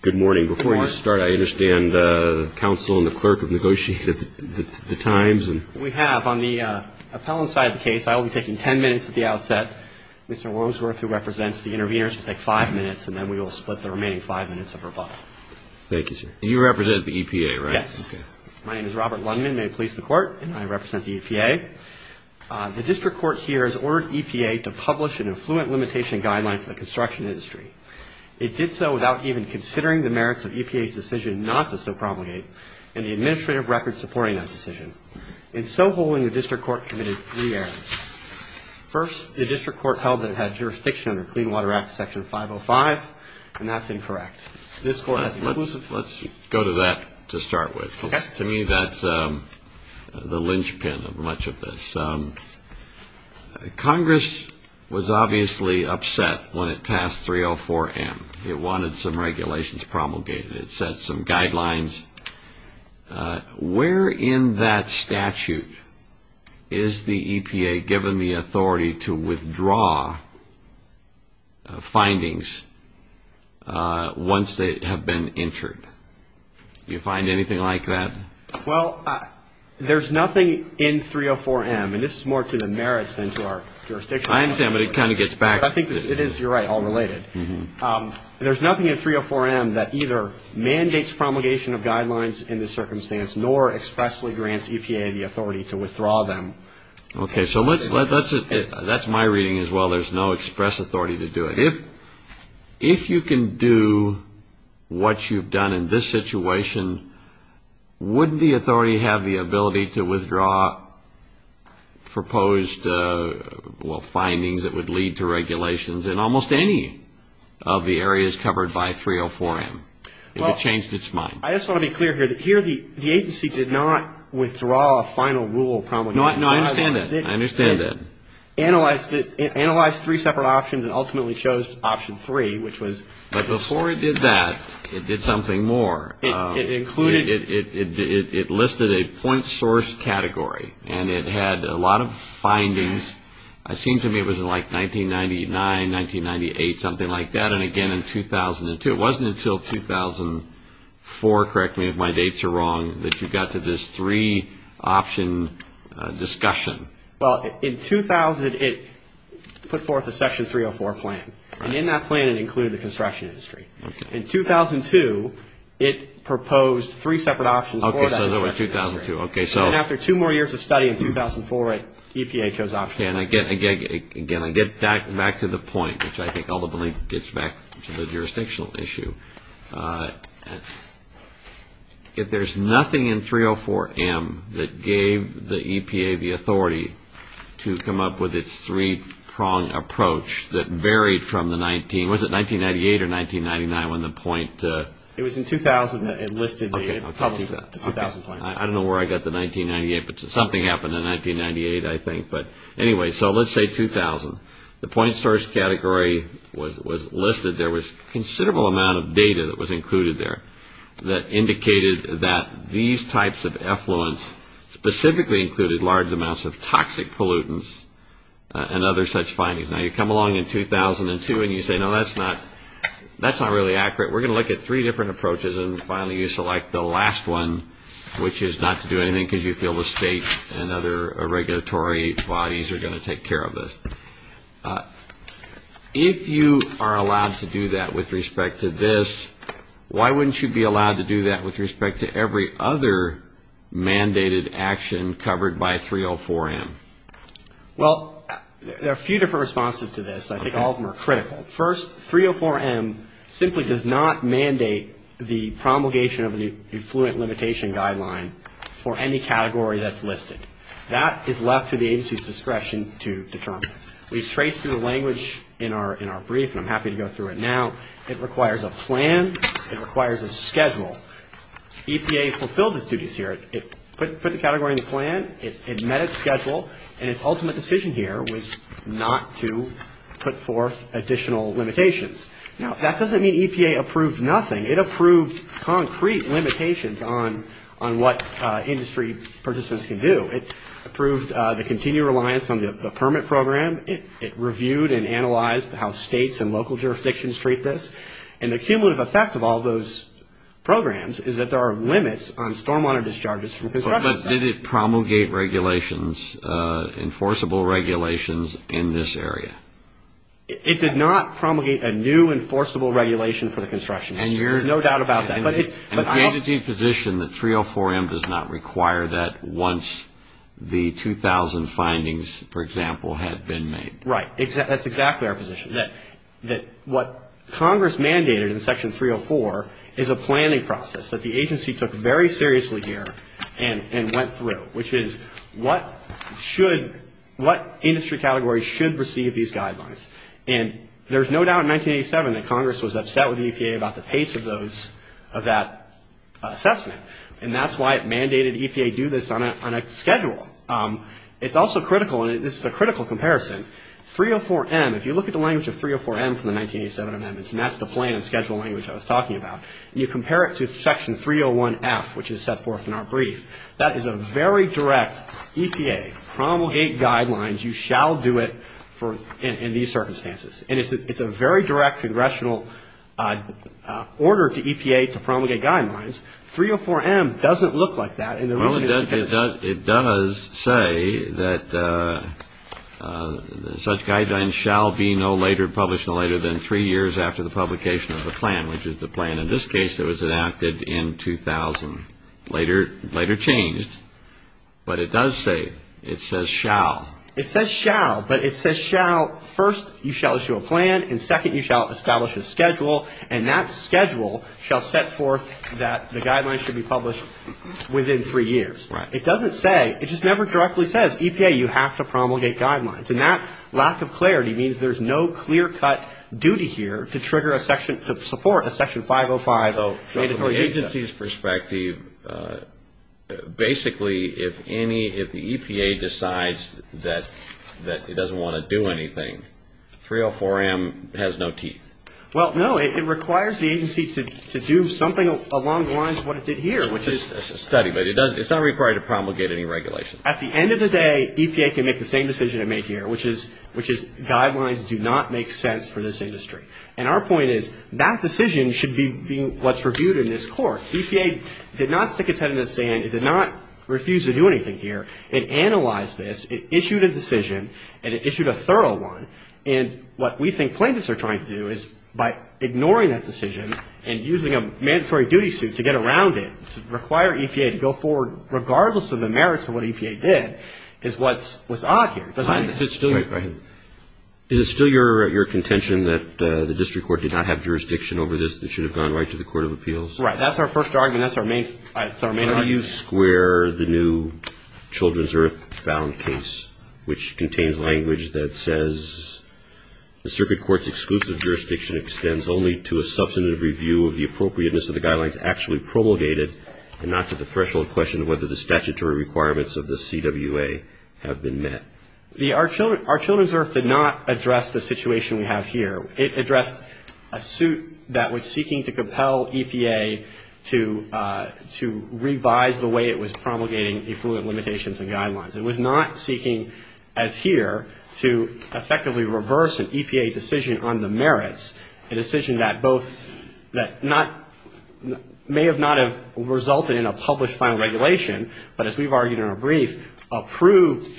Good morning. Before you start, I understand the counsel and the clerk have negotiated the times. We have. On the appellant side of the case, I will be taking ten minutes at the outset. Mr. Wormsworth, who represents the intervenors, will take five minutes, and then we will split the remaining five minutes of her buck. Thank you, sir. You represent the EPA, right? Yes. My name is Robert Lundman. I'm a police in the court, and I represent the EPA. The district court here has ordered EPA to publish an Affluent Limitation Guideline for the construction industry. It did so without even considering the merits of EPA's decision not to so promulgate and the administrative record supporting that decision. In so holding, the district court committed three errors. First, the district court held that it had jurisdiction under Clean Water Act Section 505, and that's incorrect. This court has inclusive Let's go to that to start with. To me, that's the linchpin of much of this. Congress was obviously upset when it passed 304M. It wanted some regulations promulgated. It set some guidelines. Where in that statute is the EPA given the authority to withdraw findings once they have been entered? Do you find anything like that? Well, there's nothing in 304M, and this is more to the merits than to our jurisdiction. I understand, but it kind of gets back. It is, you're right, all related. There's nothing in 304M that either mandates promulgation of guidelines in this circumstance nor expressly grants EPA the authority to withdraw them. Okay, so that's my reading as well. There's no express authority to do it. If you can do what you've done in this situation, wouldn't the authority have the ability to withdraw proposed findings that would lead to regulations in almost any of the areas covered by 304M? It would have changed its mind. I just want to be clear here that here the agency did not withdraw a final rule promulgation. I understand that. It analyzed three separate options and ultimately chose option three, which was this. But before it did that, it did something more. It included? It listed a point source category, and it had a lot of findings. It seemed to me it was like 1999, 1998, something like that, and again in 2002. It wasn't until 2004, correct me if my dates are wrong, that you got to this three-option discussion. Well, in 2000, it put forth a Section 304 plan, and in that plan it included the construction industry. In 2002, it proposed three separate options for the construction industry. Okay, so that was 2002. And after two more years of study in 2004, EPA chose option three. Again, I get back to the point, which I think ultimately gets back to the jurisdictional issue. If there's nothing in 304M that gave the EPA the authority to come up with its three-pronged approach that varied from the 19, was it 1998 or 1999 when the point? It was in 2000 that it listed the, it published the 2000 plan. I don't know where I got the 1998, but something happened in 1998, I think. But anyway, so let's say 2000. The point source category was listed. There was a considerable amount of data that was included there that indicated that these types of effluents specifically included large amounts of toxic pollutants and other such findings. Now, you come along in 2002 and you say, no, that's not really accurate. We're going to look at three different approaches, and finally you select the last one, which is not to do anything because you feel the state and other regulatory bodies are going to take care of this. If you are allowed to do that with respect to this, why wouldn't you be allowed to do that with respect to every other mandated action covered by 304M? Well, there are a few different responses to this. I think all of them are critical. First, 304M simply does not mandate the promulgation of an effluent limitation guideline for any category that's listed. That is left to the agency's discretion to determine. We've traced through the language in our brief, and I'm happy to go through it now. It requires a plan. It requires a schedule. EPA fulfilled its duties here. It put the category in the plan. It met its schedule, and its ultimate decision here was not to put forth additional limitations. Now, that doesn't mean EPA approved nothing. It approved concrete limitations on what industry participants can do. It approved the continued reliance on the permit program. It reviewed and analyzed how states and local jurisdictions treat this. And the cumulative effect of all those programs is that there are limits on stormwater discharges from construction sites. But did it promulgate regulations, enforceable regulations in this area? It did not promulgate a new enforceable regulation for the construction industry. There's no doubt about that. And the agency's position that 304M does not require that once the 2,000 findings, for example, had been made. Right. That's exactly our position, that what Congress mandated in Section 304 is a planning process that the agency took very seriously here and went through, which is what industry categories should receive these guidelines. And there's no doubt in 1987 that Congress was upset with EPA about the pace of that assessment, and that's why it mandated EPA do this on a schedule. It's also critical, and this is a critical comparison, 304M. If you look at the language of 304M from the 1987 amendments, and that's the plan and schedule language I was talking about, and you compare it to Section 301F, which is set forth in our brief, that is a very direct EPA promulgate guidelines, you shall do it in these circumstances. And it's a very direct congressional order to EPA to promulgate guidelines. 304M doesn't look like that. Well, it does say that such guidelines shall be no later published, no later than three years after the publication of the plan, which is the plan in this case that was enacted in 2000. Later changed, but it does say, it says shall. It says shall, but it says shall, first you shall issue a plan, and second you shall establish a schedule, and that schedule shall set forth that the guidelines should be published within three years. It doesn't say, it just never directly says, EPA, you have to promulgate guidelines. And that lack of clarity means there's no clear-cut duty here to trigger a section, to support a Section 505 mandatory visa. So from the agency's perspective, basically if any, if the EPA decides that it doesn't want to do anything, 304M has no teeth. Well, no, it requires the agency to do something along the lines of what it did here, which is. It's a study, but it's not required to promulgate any regulations. At the end of the day, EPA can make the same decision it made here, which is guidelines do not make sense for this industry. And our point is, that decision should be what's reviewed in this court. EPA did not stick its head in the sand. It did not refuse to do anything here and analyze this. It issued a decision, and it issued a thorough one. And what we think plaintiffs are trying to do is by ignoring that decision and using a mandatory duty suit to get around it, to require EPA to go forward, regardless of the merits of what EPA did, is what's odd here. Is it still your contention that the district court did not have jurisdiction over this? It should have gone right to the Court of Appeals? Right. That's our first argument. That's our main argument. How do you square the new Children's Earth found case, which contains language that says, The Circuit Court's exclusive jurisdiction extends only to a substantive review of the appropriateness of the guidelines actually promulgated and not to the threshold question of whether the statutory requirements of the CWA have been met. Our Children's Earth did not address the situation we have here. It addressed a suit that was seeking to compel EPA to revise the way it was promulgating effluent limitations and guidelines. It was not seeking, as here, to effectively reverse an EPA decision on the merits, a decision that both may have not have resulted in a published final regulation, but as we've argued in our brief, approved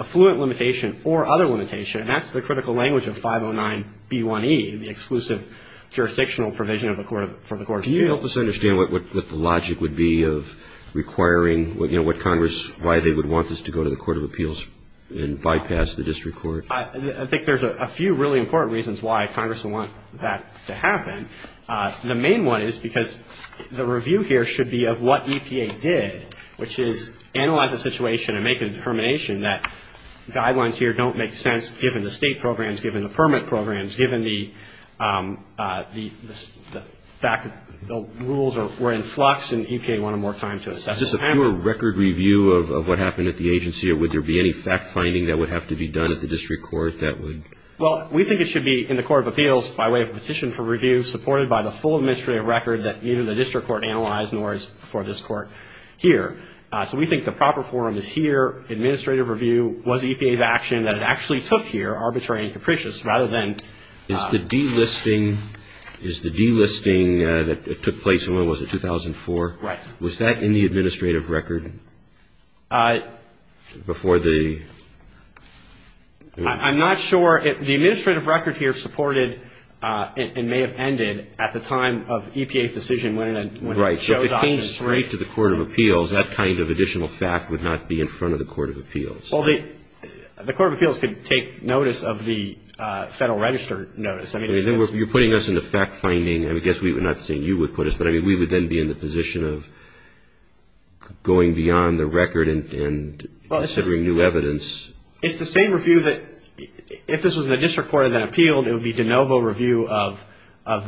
effluent limitation or other limitation. And that's the critical language of 509B1E, the exclusive jurisdictional provision for the Court of Appeals. Can you help us understand what the logic would be of requiring, you know, what Congress, why they would want this to go to the Court of Appeals and bypass the district court? I think there's a few really important reasons why Congress would want that to happen. The main one is because the review here should be of what EPA did, which is analyze the situation and make a determination that guidelines here don't make sense given the state programs, given the permit programs, given the fact that the rules were in flux and EPA wanted more time to assess. Is this a pure record review of what happened at the agency or would there be any fact-finding that would have to be done at the district court that would? Well, we think it should be in the Court of Appeals by way of a petition for review, supported by the full administrative record that either the district court analyzed nor is for this court here. So we think the proper forum is here. The proper administrative review was EPA's action that it actually took here, arbitrary and capricious, rather than. Is the delisting, is the delisting that took place in, what was it, 2004? Right. Was that in the administrative record before the. I'm not sure. The administrative record here supported and may have ended at the time of EPA's decision when it showed up. If it came straight to the Court of Appeals, that kind of additional fact would not be in front of the Court of Appeals. Well, the Court of Appeals could take notice of the Federal Register notice. You're putting us in the fact-finding. I guess we would not say you would put us, but we would then be in the position of going beyond the record and considering new evidence. It's the same review that if this was in the district court and then appealed, it would be de novo review of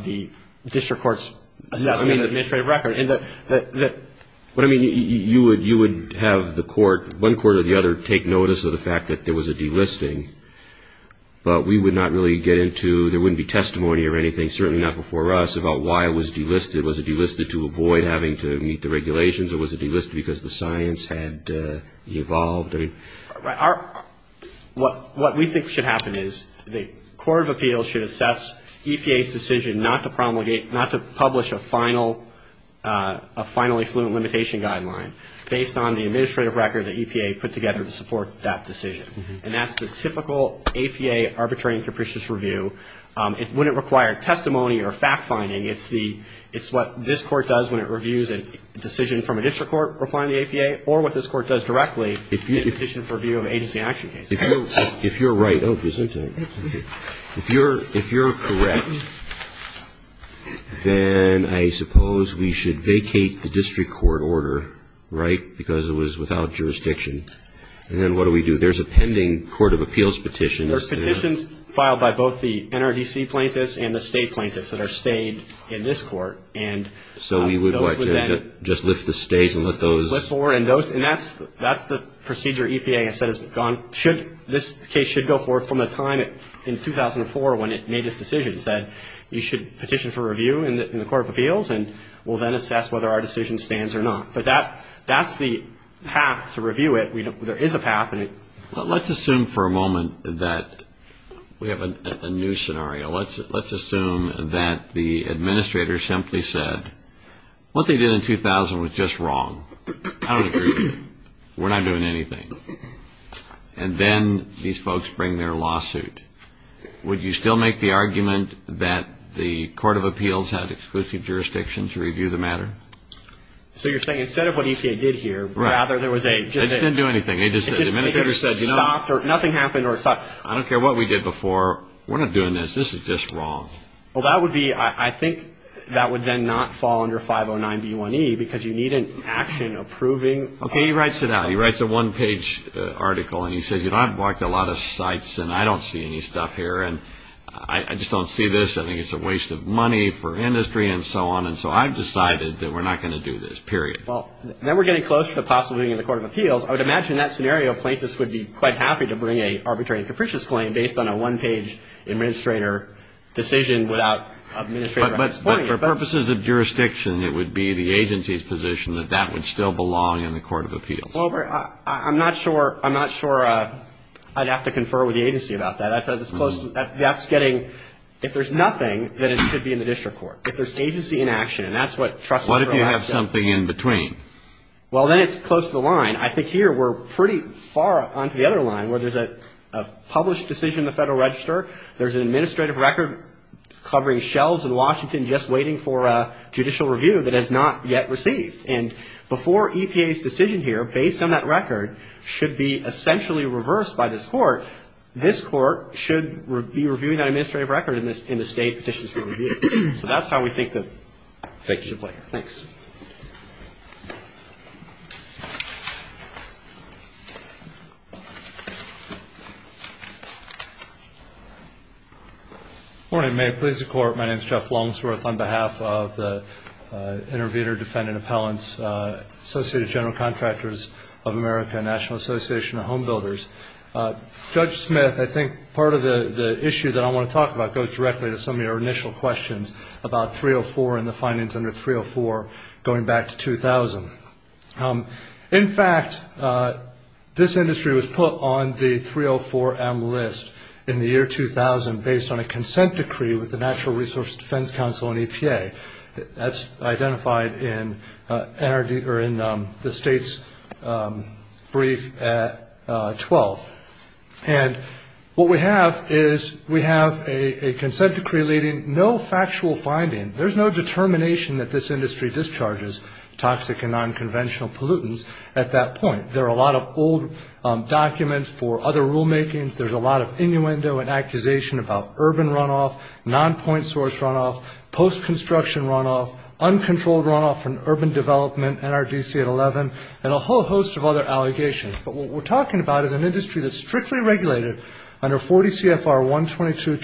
the district court's administrative record. But, I mean, you would have the court, one court or the other, take notice of the fact that there was a delisting, but we would not really get into, there wouldn't be testimony or anything, certainly not before us, about why it was delisted. Was it delisted to avoid having to meet the regulations, or was it delisted because the science had evolved? What we think should happen is the Court of Appeals should assess EPA's decision not to promulgate, not to publish a finally fluent limitation guideline based on the administrative record that EPA put together to support that decision. And that's the typical APA arbitrary and capricious review. It wouldn't require testimony or fact-finding. It's what this court does when it reviews a decision from a district court, or what this court does directly in a petition for review of agency action cases. If you're right, oh, isn't it? If you're correct, then I suppose we should vacate the district court order, right, because it was without jurisdiction. And then what do we do? There's a pending Court of Appeals petition. There's petitions filed by both the NRDC plaintiffs and the state plaintiffs that are stayed in this court. So we would just lift the stays and let those? Lift forward, and that's the procedure EPA has said has gone. This case should go forward from the time in 2004 when it made its decision. It said you should petition for review in the Court of Appeals, and we'll then assess whether our decision stands or not. But that's the path to review it. There is a path. Let's assume for a moment that we have a new scenario. Let's assume that the administrator simply said, what they did in 2000 was just wrong. I don't agree with it. We're not doing anything. And then these folks bring their lawsuit. Would you still make the argument that the Court of Appeals had exclusive jurisdiction to review the matter? So you're saying instead of what EPA did here, rather there was a? They just didn't do anything. They just said, the administrator said, you know. It just stopped, or nothing happened, or it stopped. I don't care what we did before. We're not doing this. This is just wrong. Well, that would be, I think that would then not fall under 509B1E because you need an action approving. Okay, he writes it out. He writes a one-page article, and he says, you know, I've walked a lot of sites, and I don't see any stuff here. And I just don't see this. I think it's a waste of money for industry and so on. And so I've decided that we're not going to do this, period. Well, then we're getting close to the possibility in the Court of Appeals. I would imagine in that scenario, Plaintiffs would be quite happy to bring an arbitrary and capricious claim based on a one-page administrator decision without administrator explaining it. But for purposes of jurisdiction, it would be the agency's position that that would still belong in the Court of Appeals. Well, I'm not sure I'd have to confer with the agency about that. That's getting, if there's nothing, then it should be in the district court. If there's agency inaction, and that's what trustee? What if you have something in between? Well, then it's close to the line. And I think here we're pretty far onto the other line, where there's a published decision in the Federal Register. There's an administrative record covering shelves in Washington just waiting for a judicial review that has not yet received. And before EPA's decision here, based on that record, should be essentially reversed by this court. This court should be reviewing that administrative record in the State Petitions for Review. So that's how we think that it should play out. Thanks. Good morning. May it please the Court, my name is Jeff Longsworth. On behalf of the interviewer, defendant, appellants, Associated General Contractors of America, National Association of Homebuilders, Judge Smith, I think part of the issue that I want to talk about goes directly to some of your initial questions about 304 and the findings under 304 going back to 2000. In fact, this industry was put on the 304M list in the year 2000, based on a consent decree with the National Resource Defense Council and EPA. That's identified in the State's brief at 12. And what we have is we have a consent decree leading no factual finding. There's no determination that this industry discharges toxic and nonconventional pollutants at that point. There are a lot of old documents for other rulemakings. There's a lot of innuendo and accusation about urban runoff, nonpoint source runoff, post-construction runoff, uncontrolled runoff from urban development, NRDC at 11, and a whole host of other allegations. But what we're talking about is an industry that's strictly regulated under 40 CFR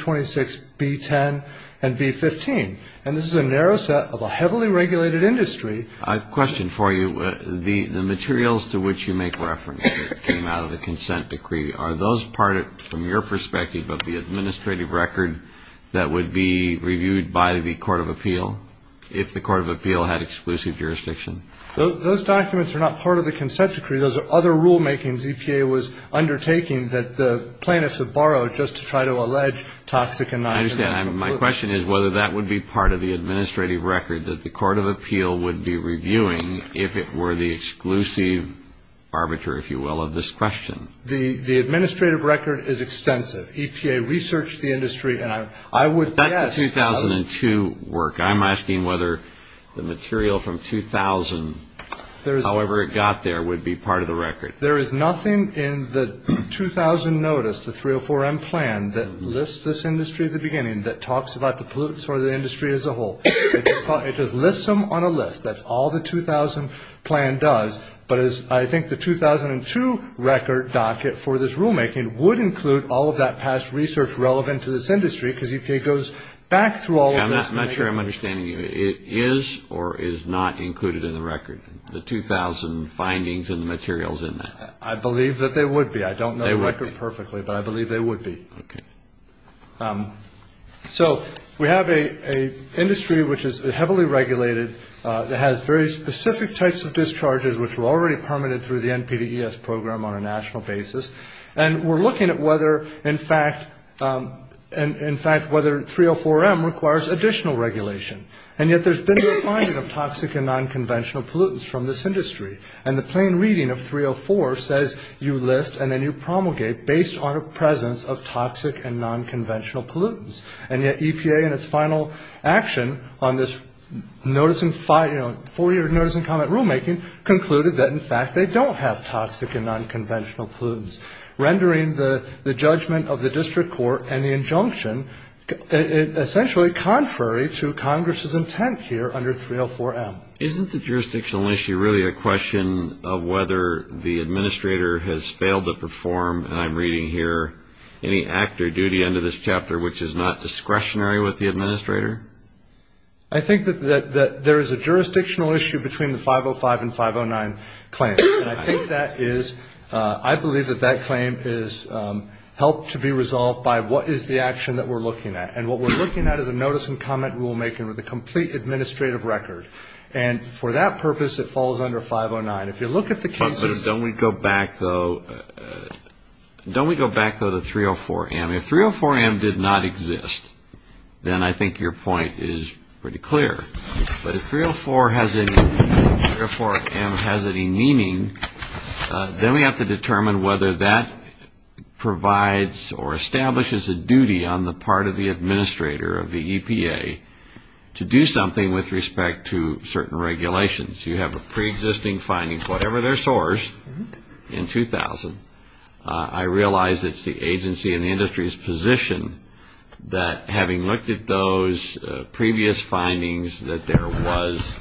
12226B10 and B15. And this is a narrow set of a heavily regulated industry. I have a question for you. The materials to which you make reference came out of the consent decree. Are those part, from your perspective, of the administrative record that would be reviewed by the court of appeal, if the court of appeal had exclusive jurisdiction? Those documents are not part of the consent decree. Those are other rulemakings EPA was undertaking that the plaintiffs have borrowed just to try to allege toxic and nonconventional pollutants. I understand. My question is whether that would be part of the administrative record that the court of appeal would be reviewing, if it were the exclusive arbiter, if you will, of this question. The administrative record is extensive. EPA researched the industry, and I would guess. But that's the 2002 work. I'm asking whether the material from 2000, however it got there, would be part of the record. There is nothing in the 2000 notice, the 304M plan, that lists this industry at the beginning, that talks about the pollutants or the industry as a whole. It just lists them on a list. That's all the 2000 plan does. But I think the 2002 record docket for this rulemaking would include all of that past research relevant to this industry, because EPA goes back through all of this. I'm not sure I'm understanding you. It is or is not included in the record, the 2000 findings and the materials in that? I believe that they would be. I don't know the record perfectly, but I believe they would be. Okay. So we have an industry which is heavily regulated, that has very specific types of discharges, which were already permitted through the NPDES program on a national basis. And we're looking at whether, in fact, 304M requires additional regulation. And yet there's been no finding of toxic and nonconventional pollutants from this industry. And the plain reading of 304 says you list and then you promulgate based on a presence of toxic and nonconventional pollutants. And yet EPA in its final action on this four-year notice and comment rulemaking concluded that, in fact, they don't have toxic and nonconventional pollutants, rendering the judgment of the district court and the injunction essentially contrary to Congress's intent here under 304M. Isn't the jurisdictional issue really a question of whether the administrator has failed to perform, and I'm reading here, any act or duty under this chapter which is not discretionary with the administrator? I think that there is a jurisdictional issue between the 505 and 509 claim. And I think that is ‑‑ I believe that that claim is helped to be resolved by what is the action that we're looking at. And what we're looking at is a notice and comment rulemaking with a complete administrative record. And for that purpose, it falls under 509. If you look at the cases ‑‑ But don't we go back, though, don't we go back, though, to 304M? If 304M did not exist, then I think your point is pretty clear. But if 304M has any meaning, then we have to determine whether that provides or establishes a duty on the part of the administrator of the EPA to do something with respect to certain regulations. You have a preexisting finding, whatever their source, in 2000. I realize it's the agency and the industry's position that having looked at those previous findings that there was,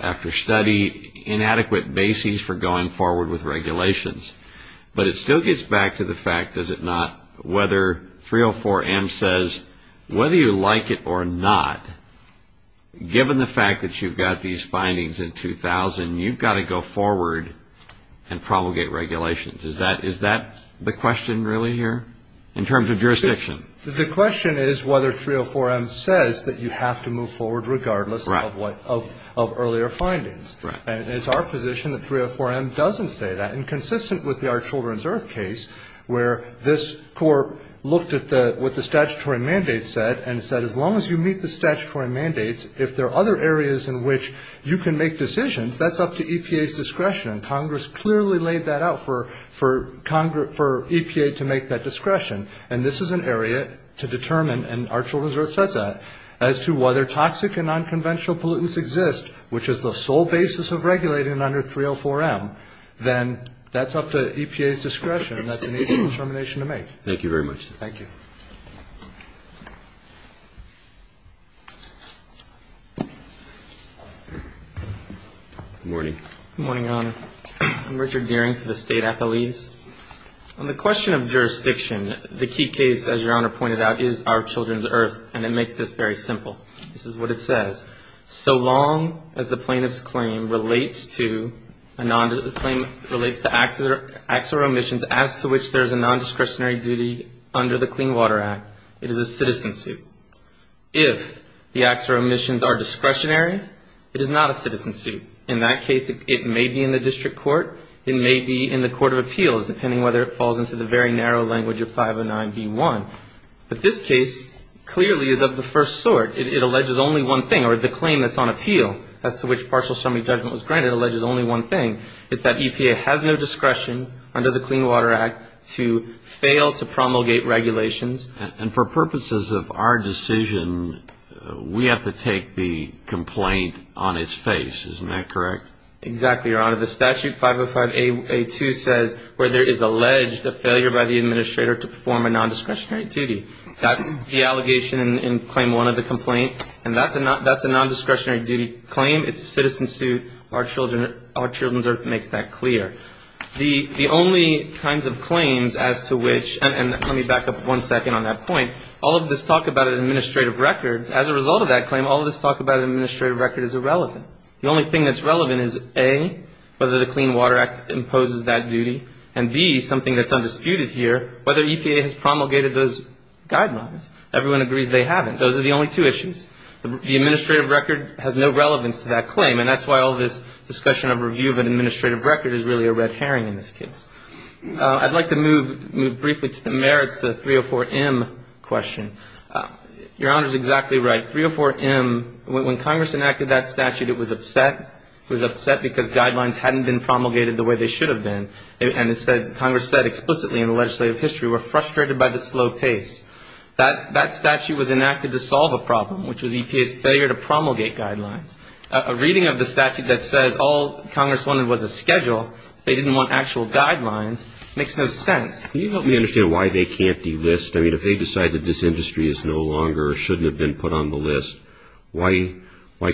after study, inadequate bases for going forward with regulations. But it still gets back to the fact, does it not, whether 304M says, whether you like it or not, given the fact that you've got these findings in 2000, you've got to go forward and promulgate regulations. Is that the question, really, here, in terms of jurisdiction? The question is whether 304M says that you have to move forward regardless of earlier findings. And it's our position that 304M doesn't say that. And consistent with the Our Children's Earth case, where this court looked at what the statutory mandate said, and said, as long as you meet the statutory mandates, if there are other areas in which you can make decisions, that's up to EPA's discretion. And Congress clearly laid that out for EPA to make that discretion. And this is an area to determine, and Our Children's Earth says that, as to whether toxic and nonconventional pollutants exist, which is the sole basis of regulating under 304M, then that's up to EPA's discretion, and that's an easy determination to make. Thank you very much. Thank you. Good morning. Good morning, Your Honor. I'm Richard Deering from the state athletes. On the question of jurisdiction, the key case, as Your Honor pointed out, is Our Children's Earth, and it makes this very simple. This is what it says. So long as the plaintiff's claim relates to acts or omissions as to which there is a nondiscretionary duty under the Clean Water Act, it is a citizen suit. If the acts or omissions are discretionary, it is not a citizen suit. In that case, it may be in the district court, it may be in the court of appeals, depending whether it falls into the very narrow language of 509B1. But this case clearly is of the first sort. It alleges only one thing, or the claim that's on appeal as to which partial summary judgment was granted alleges only one thing. It's that EPA has no discretion under the Clean Water Act to fail to promulgate regulations. And for purposes of our decision, we have to take the complaint on its face. Isn't that correct? Exactly, Your Honor. The statute 505A2 says where there is alleged a failure by the administrator to perform a nondiscretionary duty. That's the allegation in Claim 1 of the complaint. And that's a nondiscretionary duty claim. It's a citizen suit. Our children's earth makes that clear. The only kinds of claims as to which, and let me back up one second on that point, all of this talk about an administrative record, as a result of that claim, all of this talk about an administrative record is irrelevant. The only thing that's relevant is, A, whether the Clean Water Act imposes that duty, and, B, something that's undisputed here, whether EPA has promulgated those guidelines. Everyone agrees they haven't. Those are the only two issues. The administrative record has no relevance to that claim, and that's why all this discussion of review of an administrative record is really a red herring in this case. I'd like to move briefly to the merits of the 304M question. Your Honor is exactly right. 304M, when Congress enacted that statute, it was upset. It was upset because guidelines hadn't been promulgated the way they should have been. And Congress said explicitly in the legislative history, we're frustrated by the slow pace. That statute was enacted to solve a problem, which was EPA's failure to promulgate guidelines. A reading of the statute that says all Congress wanted was a schedule, they didn't want actual guidelines, makes no sense. Can you help me understand why they can't delist? I mean, if they decide that this industry is no longer or shouldn't have been put on the list, why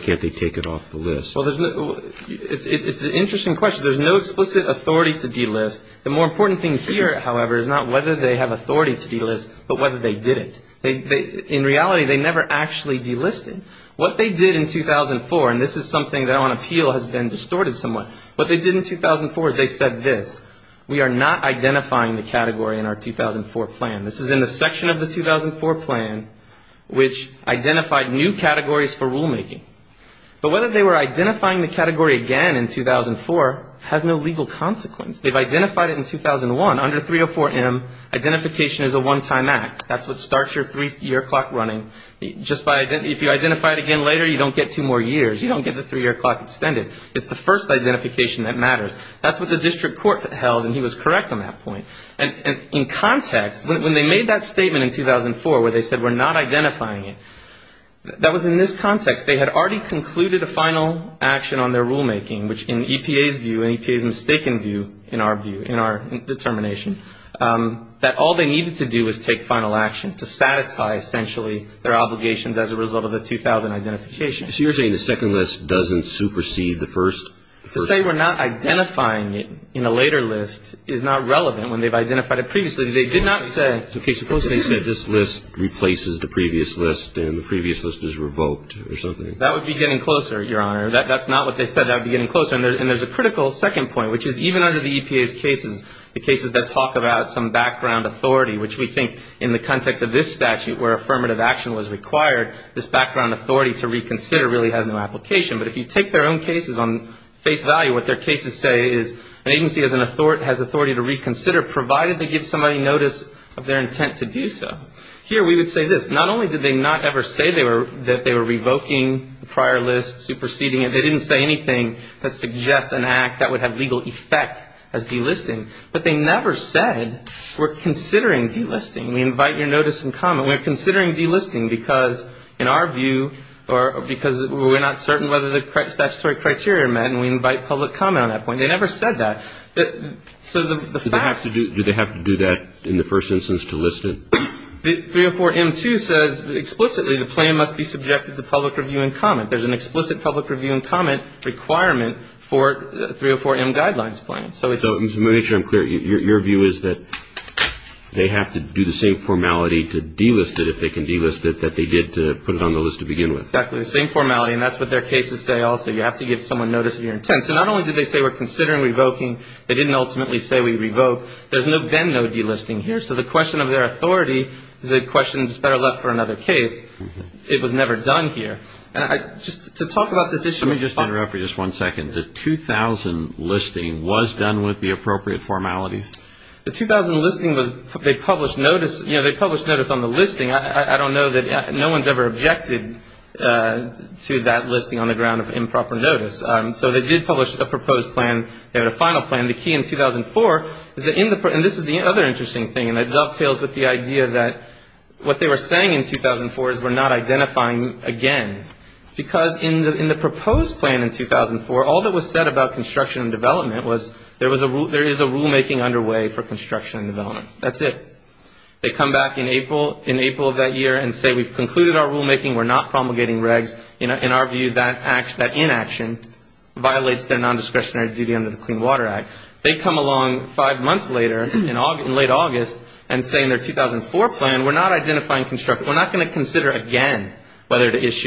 can't they take it off the list? Well, it's an interesting question. In Congress, there's no explicit authority to delist. The more important thing here, however, is not whether they have authority to delist, but whether they didn't. In reality, they never actually delisted. What they did in 2004, and this is something that on appeal has been distorted somewhat, what they did in 2004 is they said this. We are not identifying the category in our 2004 plan. This is in the section of the 2004 plan which identified new categories for rulemaking. But whether they were identifying the category again in 2004 has no legal consequence. They've identified it in 2001 under 304M, identification is a one-time act. That's what starts your three-year clock running. If you identify it again later, you don't get two more years. You don't get the three-year clock extended. It's the first identification that matters. That's what the district court held, and he was correct on that point. And in context, when they made that statement in 2004 where they said we're not identifying it, that was in this context. They had already concluded a final action on their rulemaking, which in EPA's view and EPA's mistaken view, in our view, in our determination, that all they needed to do was take final action to satisfy, essentially, their obligations as a result of the 2000 identification. So you're saying the second list doesn't supersede the first? To say we're not identifying it in a later list is not relevant when they've identified it previously. Okay, suppose they said this list replaces the previous list and the previous list is revoked or something. That would be getting closer, Your Honor. That's not what they said. That would be getting closer. And there's a critical second point, which is even under the EPA's cases, the cases that talk about some background authority, which we think in the context of this statute where affirmative action was required, this background authority to reconsider really has no application. But if you take their own cases on face value, what their cases say is an agency has authority to reconsider, provided they give somebody notice of their intent to do so. Here we would say this. Not only did they not ever say that they were revoking the prior list, superseding it, they didn't say anything that suggests an act that would have legal effect as delisting. But they never said we're considering delisting. We invite your notice and comment. We're considering delisting because, in our view, or because we're not certain whether the statutory criteria are met and we invite public comment on that point. They never said that. Do they have to do that in the first instance to list it? 304M2 says explicitly the plan must be subjected to public review and comment. There's an explicit public review and comment requirement for 304M guidelines plan. So to make sure I'm clear, your view is that they have to do the same formality to delist it, if they can delist it, that they did to put it on the list to begin with. Exactly. The same formality. And that's what their cases say also. You have to give someone notice of your intent. And so not only did they say we're considering revoking, they didn't ultimately say we revoke. There's been no delisting here. So the question of their authority is a question that's better left for another case. It was never done here. Just to talk about this issue. Let me just interrupt for just one second. The 2000 listing was done with the appropriate formalities? The 2000 listing was they published notice on the listing. I don't know that no one's ever objected to that listing on the ground of improper notice. So they did publish a proposed plan. They had a final plan. The key in 2004, and this is the other interesting thing, and it dovetails with the idea that what they were saying in 2004 is we're not identifying again. It's because in the proposed plan in 2004, all that was said about construction and development was there is a rulemaking underway for construction and development. That's it. They come back in April of that year and say we've concluded our rulemaking. We're not promulgating regs. In our view, that inaction violates their nondiscretionary duty under the Clean Water Act. They come along five months later in late August and say in their 2004 plan we're not identifying construction. We're not going to consider again whether this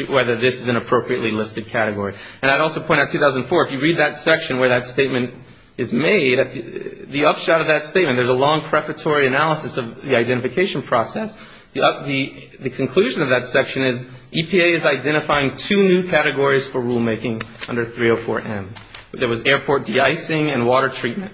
is an appropriately listed category. And I'd also point out 2004, if you read that section where that statement is made, the upshot of that statement, there's a long prefatory analysis of the identification process. The conclusion of that section is EPA is identifying two new categories for rulemaking under 304M. There was airport de-icing and water treatment.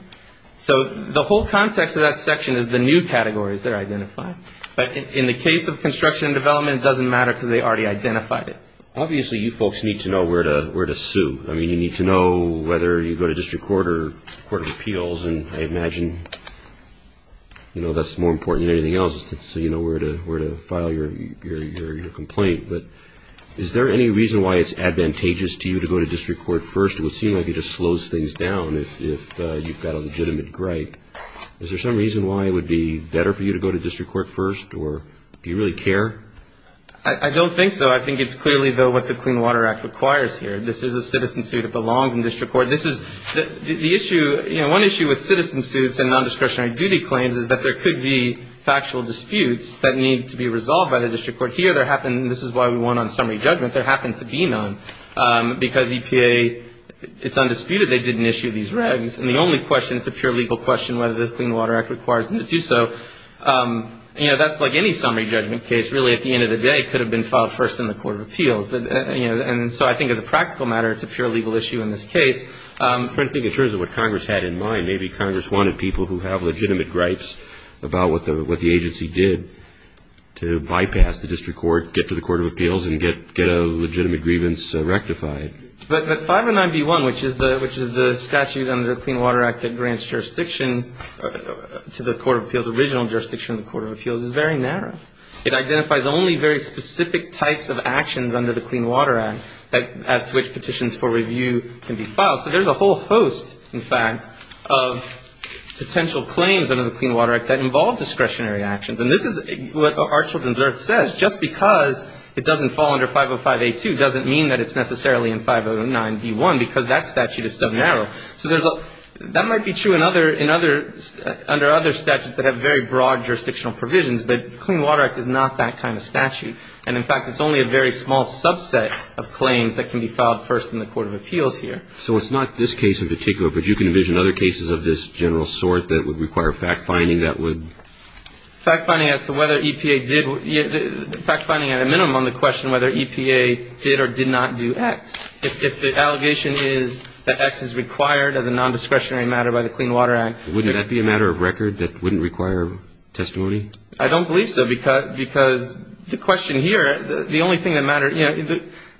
So the whole context of that section is the new categories they're identifying. But in the case of construction and development, it doesn't matter because they already identified it. Obviously, you folks need to know where to sue. I mean, you need to know whether you go to district court or court of appeals, and I imagine that's more important than anything else is so you know where to file your complaint. But is there any reason why it's advantageous to you to go to district court first? It would seem like it just slows things down if you've got a legitimate gripe. Is there some reason why it would be better for you to go to district court first? Or do you really care? I don't think so. I think it's clearly, though, what the Clean Water Act requires here. This is a citizen suit. It belongs in district court. This is the issue. You know, one issue with citizen suits and nondiscretionary duty claims is that there could be factual disputes that need to be resolved by the district court. Here, this is why we won on summary judgment. There happens to be none because EPA, it's undisputed they didn't issue these regs. And the only question, it's a pure legal question whether the Clean Water Act requires them to do so. You know, that's like any summary judgment case. Really, at the end of the day, it could have been filed first in the court of appeals. And so I think as a practical matter, it's a pure legal issue in this case. I think in terms of what Congress had in mind, maybe Congress wanted people who have legitimate gripes about what the agency did to bypass the district court, get to the court of appeals, and get a legitimate grievance rectified. But 509B1, which is the statute under the Clean Water Act that grants jurisdiction to the court of appeals, original jurisdiction of the court of appeals, is very narrow. It identifies only very specific types of actions under the Clean Water Act as to which petitions for review can be filed. So there's a whole host, in fact, of potential claims under the Clean Water Act that involve discretionary actions. And this is what Our Children's Earth says. Just because it doesn't fall under 505A2 doesn't mean that it's necessarily in 509B1 because that statute is so narrow. So that might be true under other statutes that have very broad jurisdictional provisions. But the Clean Water Act is not that kind of statute. And, in fact, it's only a very small subset of claims that can be filed first in the court of appeals here. So it's not this case in particular, but you can envision other cases of this general sort that would require fact-finding that would? Fact-finding as to whether EPA did. Fact-finding at a minimum the question whether EPA did or did not do X. If the allegation is that X is required as a nondiscretionary matter by the Clean Water Act. Wouldn't that be a matter of record that wouldn't require testimony? I don't believe so because the question here, the only thing that matters, you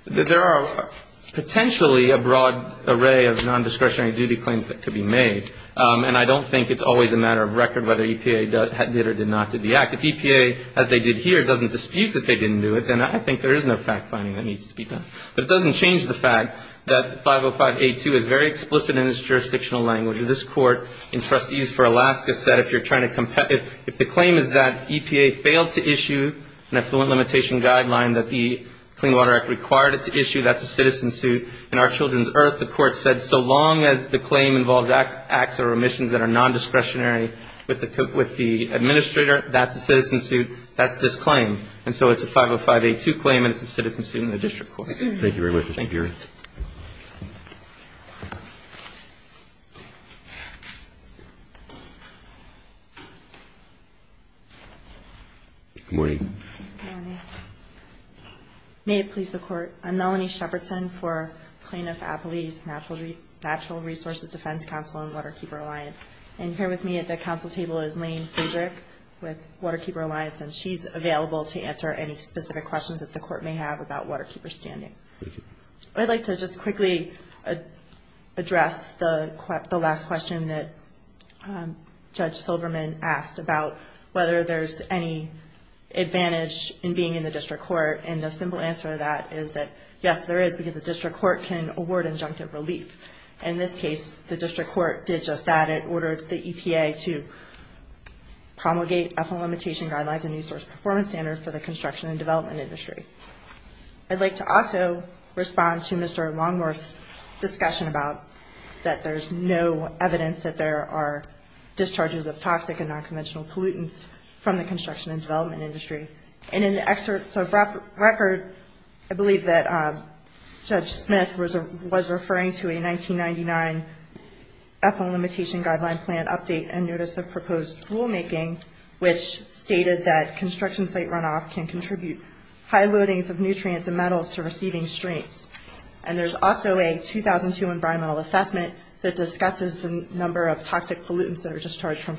know, there are potentially a broad array of nondiscretionary duty claims that could be made. And I don't think it's always a matter of record whether EPA did or did not do the act. If EPA, as they did here, doesn't dispute that they didn't do it, then I think there is no fact-finding that needs to be done. But it doesn't change the fact that 505A2 is very explicit in its jurisdictional language. This Court in Trustees for Alaska said if you're trying to compete, if the claim is that EPA failed to issue an affluent limitation guideline that the Clean Water Act required it to issue, that's a citizen suit. In Our Children's Earth, the Court said so long as the claim involves acts or omissions that are nondiscretionary with the administrator, that's a citizen suit. That's this claim. And so it's a 505A2 claim and it's a citizen suit in the district court. Thank you very much. Thank you. Good morning. Good morning. May it please the Court. I'm Melanie Shepardson for Plaintiff Appellee's Natural Resources Defense Council and Waterkeeper Alliance. And here with me at the council table is Lane Friedrich with Waterkeeper Alliance. And she's available to answer any specific questions that the Court may have about waterkeeper standing. Thank you. I'd like to just quickly address the last question that Judge Silverman asked about whether there's any advantage in being in the district court. And the simple answer to that is that yes, there is, because the district court can award injunctive relief. In this case, the district court did just that. It ordered the EPA to promulgate ethyl limitation guidelines and resource performance standards for the construction and development industry. I'd like to also respond to Mr. Longworth's discussion about that there's no evidence that there are discharges of toxic and nonconventional pollutants from the construction and development industry. And in the excerpt of record, I believe that Judge Smith was referring to a 1999 ethyl limitation guideline plan update and notice of proposed rulemaking, which stated that construction site runoff can contribute high loadings of nutrients and metals to receiving streams. And there's also a 2002 environmental assessment that discusses the number of toxic pollutants that are discharged from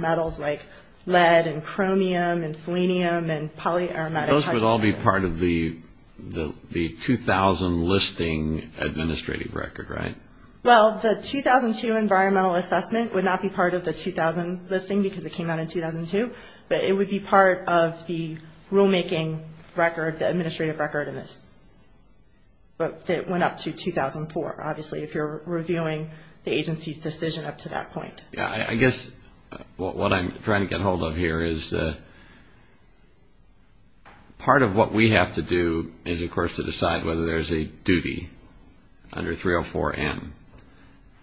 metals like lead and chromium and selenium and polyaromatic hydrocarbons. Those would all be part of the 2000 listing administrative record, right? Well, the 2002 environmental assessment would not be part of the 2000 listing because it came out in 2002. But it would be part of the rulemaking record, the administrative record in this. But it went up to 2004, obviously, if you're reviewing the agency's decision up to that point. I guess what I'm trying to get a hold of here is part of what we have to do is, of course, to decide whether there's a duty under 304N.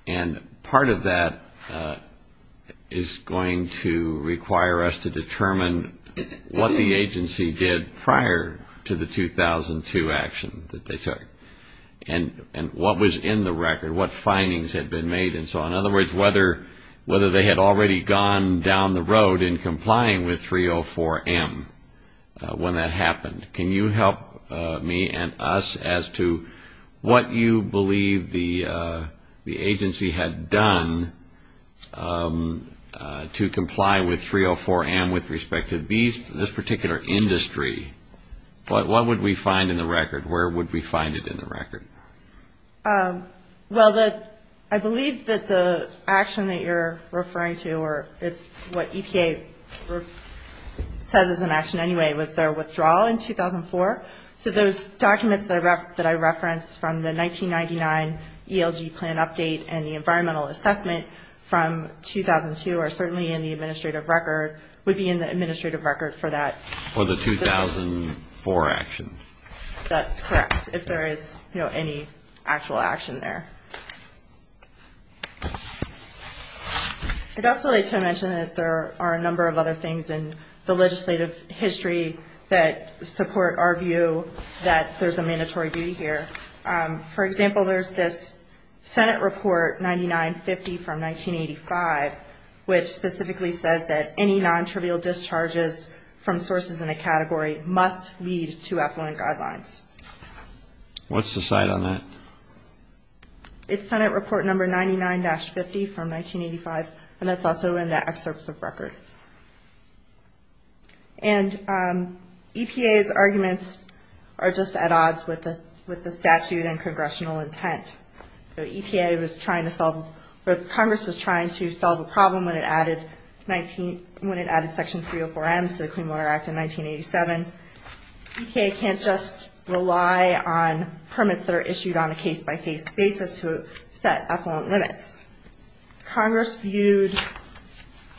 And part of that is going to require us to determine what the agency did prior to the 2002 action that they took and what was in the record, what findings had been made and so on. In other words, whether they had already gone down the road in complying with 304M when that happened. Can you help me and us as to what you believe the agency had done to comply with 304M with respect to this particular industry? What would we find in the record? Where would we find it in the record? Well, I believe that the action that you're referring to, or it's what EPA says is an action anyway, was their withdrawal in 2004. So those documents that I referenced from the 1999 ELG plan update and the environmental assessment from 2002 are certainly in the administrative record, would be in the administrative record for that. For the 2004 action. That's correct, if there is any actual action there. I'd also like to mention that there are a number of other things in the legislative history that support our view that there's a mandatory duty here. For example, there's this Senate report 9950 from 1985, which specifically says that any non-trivial discharges from sources in a What's the site on that? It's Senate report number 99-50 from 1985, and that's also in the excerpts of record. And EPA's arguments are just at odds with the statute and congressional intent. EPA was trying to solve, or Congress was trying to solve a problem when it added section 304M to the Clean Water Act in 1987. EPA can't just rely on permits that are issued on a case-by-case basis to set limits. Congress viewed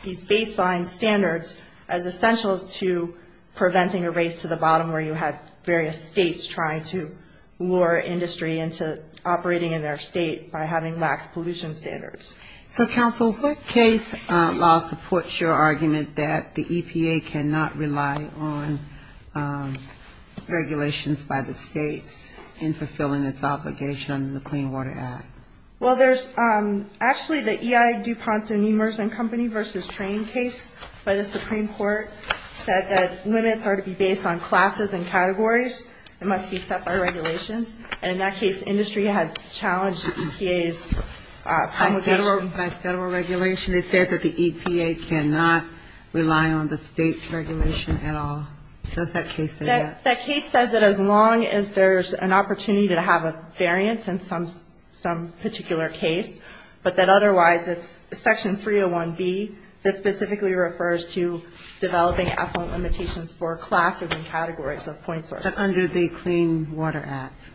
these baseline standards as essential to preventing a race to the bottom where you have various states trying to lure industry into operating in their state by having lax pollution standards. So, counsel, what case law supports your argument that the EPA cannot rely on regulations by the states in fulfilling its obligation under the Clean Water Act? Well, there's actually the EI DuPont and Emerson Company v. Train case by the Supreme Court said that limits are to be based on classes and categories. It must be set by regulation, and in that case, industry had challenged EPA's obligation. By federal regulation, it says that the EPA cannot rely on the state's regulation at all. Does that case say that? That case says that as long as there's an opportunity to have a variance in some particular case, but that otherwise it's section 301B that specifically refers to developing effluent limitations for classes and categories of point sources. But under the Clean Water Act,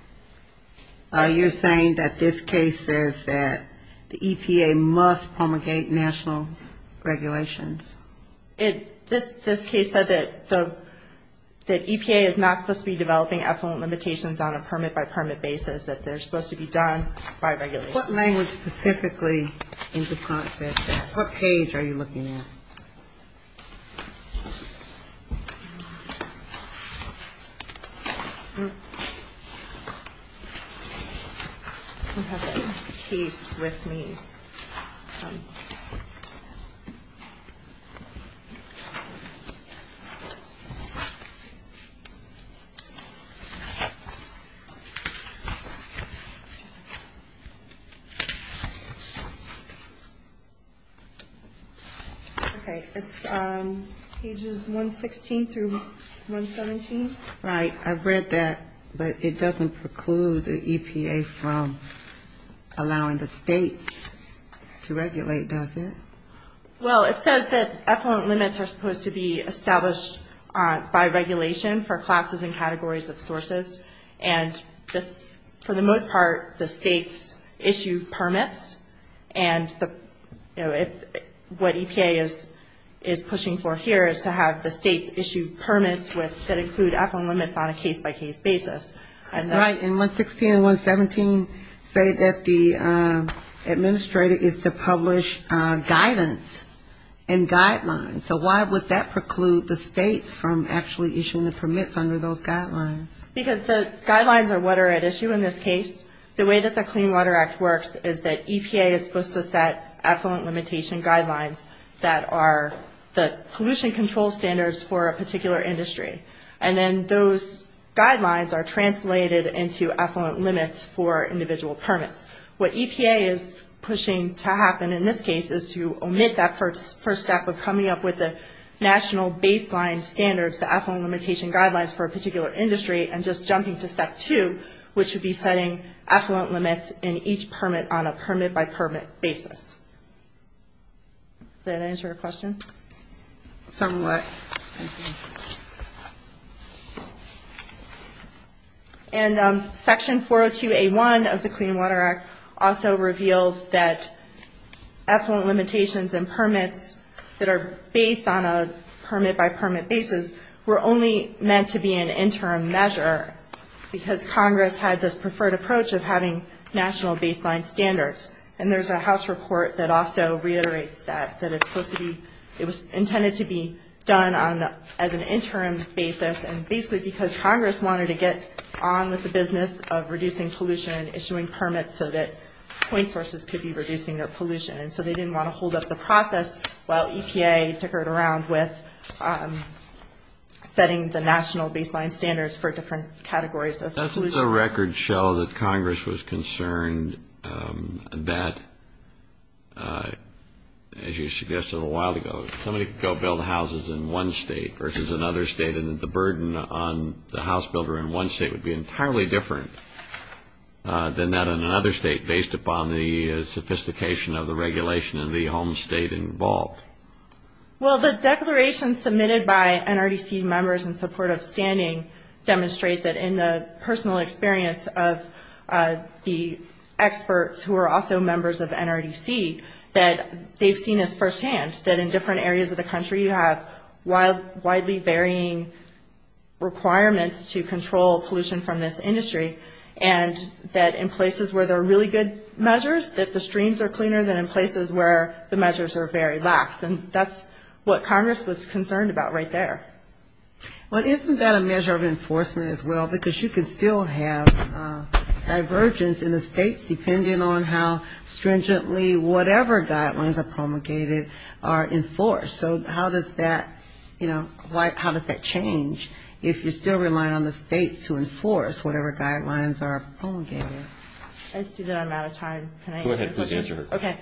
you're saying that this case says that the EPA must promulgate national regulations? This case said that EPA is not supposed to be developing effluent limitations on a permit-by-permit basis, that they're supposed to be done by regulation. So what are you looking at? Okay. It's pages 116 through 117. Right. I've read that, but it doesn't preclude the EPA from allowing the states to regulate, does it? Well, it says that effluent limits are supposed to be established by regulation for classes and categories of sources. And this, for the most part, the states issue permits, and the, you know, what EPA says is that the EPA is not supposed to do that, but what EPA is pushing for here is to have the states issue permits that include effluent limits on a case-by-case basis. Right. And 116 and 117 say that the administrator is to publish guidance and guidelines. So why would that preclude the states from actually issuing the permits under those guidelines? Because the guidelines are what are at issue in this case. The way that the Clean Water Act works is that EPA is supposed to set effluent limitation guidelines that are the pollution control standards for a particular industry. And then those guidelines are translated into effluent limits for individual permits. What EPA is pushing to happen in this case is to omit that first step of coming up with the national baseline standards, the effluent limitation guidelines for a particular industry, and just jumping to step two, which would be setting effluent limits in each permit on a permit-by-permit basis. Does that answer your question? Somewhat. And Section 402A1 of the Clean Water Act also reveals that effluent limitations and permits that are based on a permit-by-permit basis were only meant to be an interim measure because Congress had this preferred approach of having national baseline standards and there's a House report that also reiterates that, that it's supposed to be, it was intended to be done on, as an interim basis and basically because Congress wanted to get on with the business of reducing pollution, issuing permits so that point sources could be reducing their pollution. And so they didn't want to hold up the process while EPA tickered around with setting the national baseline standards for different categories of pollution. I'm just wondering, as you suggested a little while ago, if somebody could go build houses in one state versus another state and that the burden on the house builder in one state would be entirely different than that in another state based upon the sophistication of the regulation in the home state involved. Well, the declarations submitted by NRDC members in support of standing demonstrate that in the personal experience of the House experts, who are also members of NRDC, that they've seen this firsthand, that in different areas of the country you have widely varying requirements to control pollution from this industry, and that in places where there are really good measures, that the streams are cleaner than in places where the measures are very lax. And that's what Congress was concerned about right there. Well, isn't that a measure of enforcement as well? Because you can still have divergence in the states and states and states depending on how stringently whatever guidelines are promulgated are enforced. So how does that, you know, how does that change if you're still relying on the states to enforce whatever guidelines are promulgated? I see that I'm out of time. Can I answer your question? Go ahead. Please answer. Okay.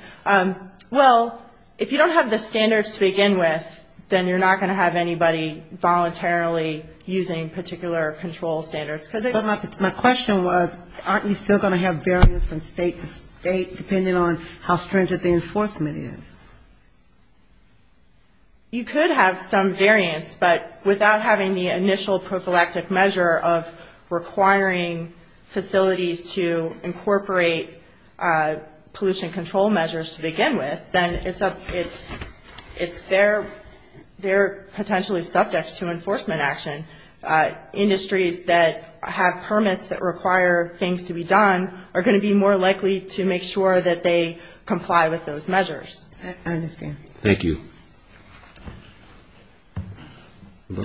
Well, if you don't have the standards to begin with, then you're not going to have anybody voluntarily using particular control standards. It's state to state, depending on how stringent the enforcement is. You could have some variance, but without having the initial prophylactic measure of requiring facilities to incorporate pollution control measures to begin with, then it's their potentially subject to enforcement action. Industries that have permits that are in place are likely to make sure that they comply with those measures. I understand. Thank you. I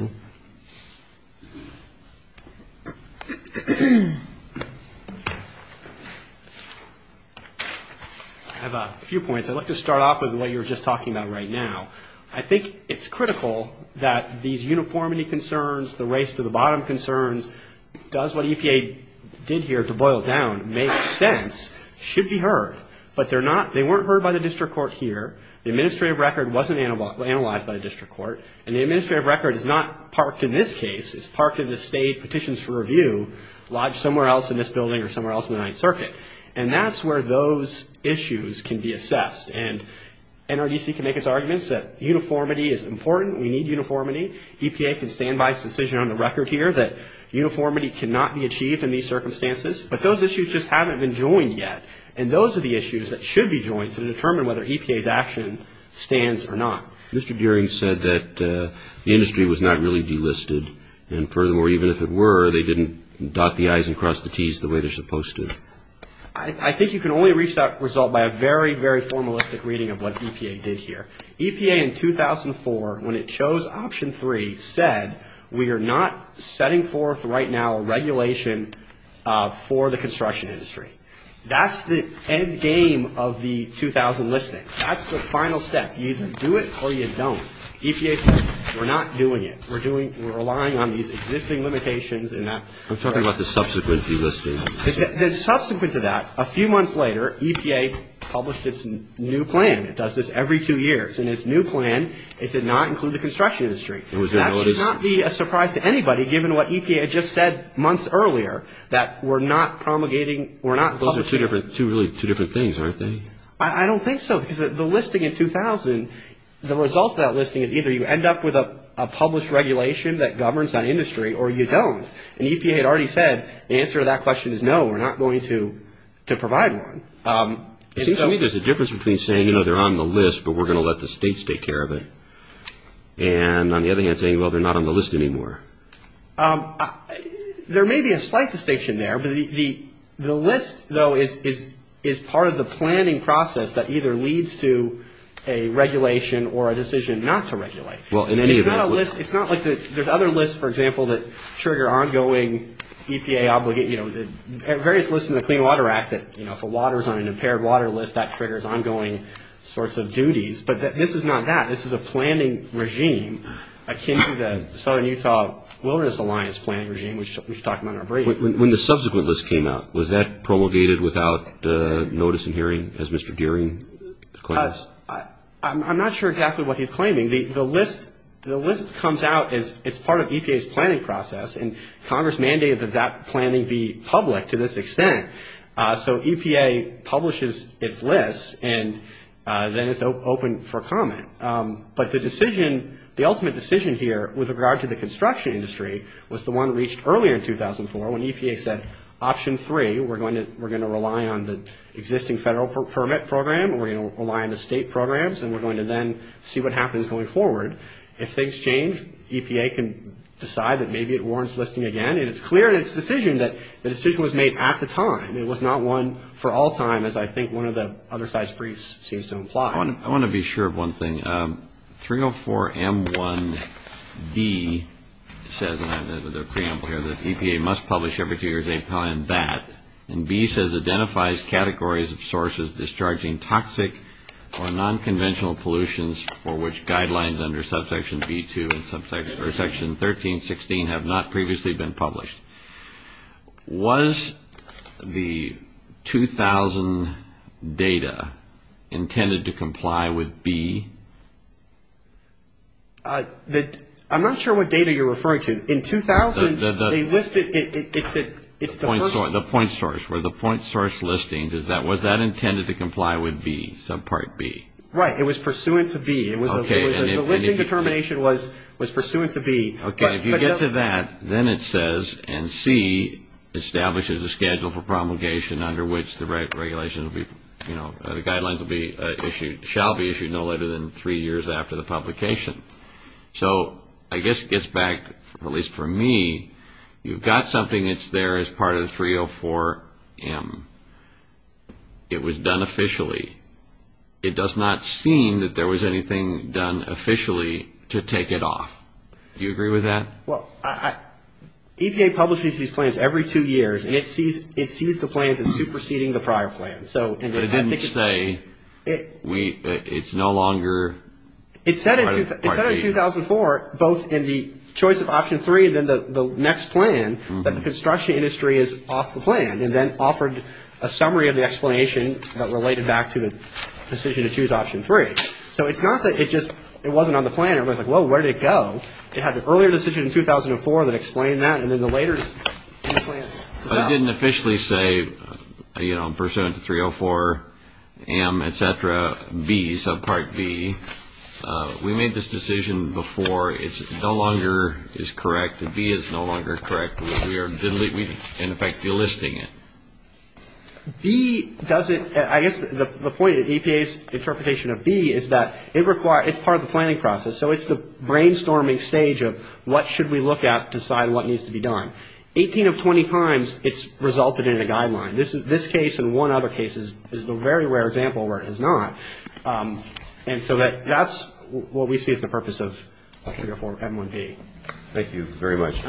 have a few points. I'd like to start off with what you were just talking about right now. I think it's critical that these uniformity concerns, the race to the bottom concerns, does what EPA did here to boil it down, makes sense, should be heard. But they're not, they weren't heard by the district court here. The administrative record wasn't analyzed by the district court. And the administrative record is not parked in this case. It's parked in the state petitions for review lodged somewhere else in this building or somewhere else in the Ninth Circuit. And that's where those issues can be assessed. And NRDC can make its arguments that uniformity is important. We need uniformity. We have a very precise decision on the record here that uniformity cannot be achieved in these circumstances. But those issues just haven't been joined yet. And those are the issues that should be joined to determine whether EPA's action stands or not. Mr. Gearing said that the industry was not really delisted. And furthermore, even if it were, they didn't dot the I's and cross the T's the way they're supposed to. I think you can only reach that result by a very, very formalistic reading of what EPA did here. EPA in 2004, when it chose option three, said we are not setting forth right now a regulation for the construction industry. That's the end game of the 2000 listing. That's the final step. You either do it or you don't. EPA says we're not doing it. We're relying on these existing limitations. I'm talking about the subsequent delisting. Subsequent to that, a few months later, EPA published its new plan. It does this every two years. And its new plan, it did not include the construction industry. That should not be a surprise to anybody, given what EPA had just said months earlier, that we're not promulgating, we're not... Those are two really different things, aren't they? I don't think so, because the listing in 2000, the result of that listing is either you end up with a published regulation that governs that industry, or you don't. And EPA had already said, the answer to that question is no, we're not going to provide one. It seems to me there's a difference between saying, you know, they're on the list, but we're going to let the states take care of it, and on the other hand, saying, well, they're not on the list anymore. There may be a slight distinction there, but the list, though, is part of the planning process that either leads to a regulation or a decision not to regulate. It's not like there's other lists, for example, that trigger ongoing EPA obligations. There are various lists in the Clean Water Act that if the water's on an impaired water list, that triggers ongoing sorts of duties, but this is not that. This is a planning regime akin to the Southern Utah Wilderness Alliance planning regime, which we talked about in our briefing. When the subsequent list came out, was that promulgated without notice and hearing, as Mr. Gearing claims? I'm not sure exactly what he's claiming. The list comes out as it's part of EPA's planning process, and Congress mandated that that planning be public to this extent. So EPA publishes its list, and then it's open for comment. But the decision, the ultimate decision here, with regard to the construction industry, was the one reached earlier in 2004, when EPA said, Option 3, we're going to rely on the existing federal permit program, we're going to rely on the state programs, and we're going to then see what happens going forward. If things change, EPA can decide that maybe it warrants listing again, and it's clear in its decision that the decision was made at the time. It was not one for all time, as I think one of the other side's briefs seems to imply. I want to be sure of one thing. 304M1B says, and I have the preamble here, that EPA must publish every two years a plan BAT. And B says identifies categories of sources discharging toxic or nonconventional pollutions for which guidelines under subsection B2 and subsection 1316 have not previously been published. Was the 2000 data intended to comply with B? I'm not sure what data you're referring to. In 2000, they listed, it's the first... The point source, where the point source listings, was that intended to comply with B, subpart B? Right, it was pursuant to B. Okay, and if you get to that, then it says, and C, establishes a schedule for promulgation under which the regulations will be, you know, the guidelines will be issued, shall be issued no later than three years. Three years after the publication. So, I guess it gets back, at least for me, you've got something that's there as part of the 304M. It was done officially. It does not seem that there was anything done officially to take it off. Do you agree with that? Well, EPA publishes these plans every two years, and it sees the plans as superseding the prior plans. But it didn't say, it's no longer... It said in 2004, both in the choice of option three and then the next plan, that the construction industry is off the plan, and then offered a summary of the explanation that related back to the decision to choose option three. So, it's not that it just, it wasn't on the plan, it was like, well, where did it go? It had the earlier decision in 2004 that explained that, and then the later in the plans. It didn't officially say, you know, pursuant to 304M, et cetera, B, subpart B. We made this decision before. It no longer is correct. B is no longer correct. We are, in effect, delisting it. B doesn't, I guess the point of EPA's interpretation of B is that it requires, it's part of the planning process, so it's the brainstorming stage of what should we look at to decide what needs to be done. 18 of 20 times, it's resulted in a guideline. This case and one other case is a very rare example where it is not. And so that's what we see as the purpose of 304M1B. Thank you very much.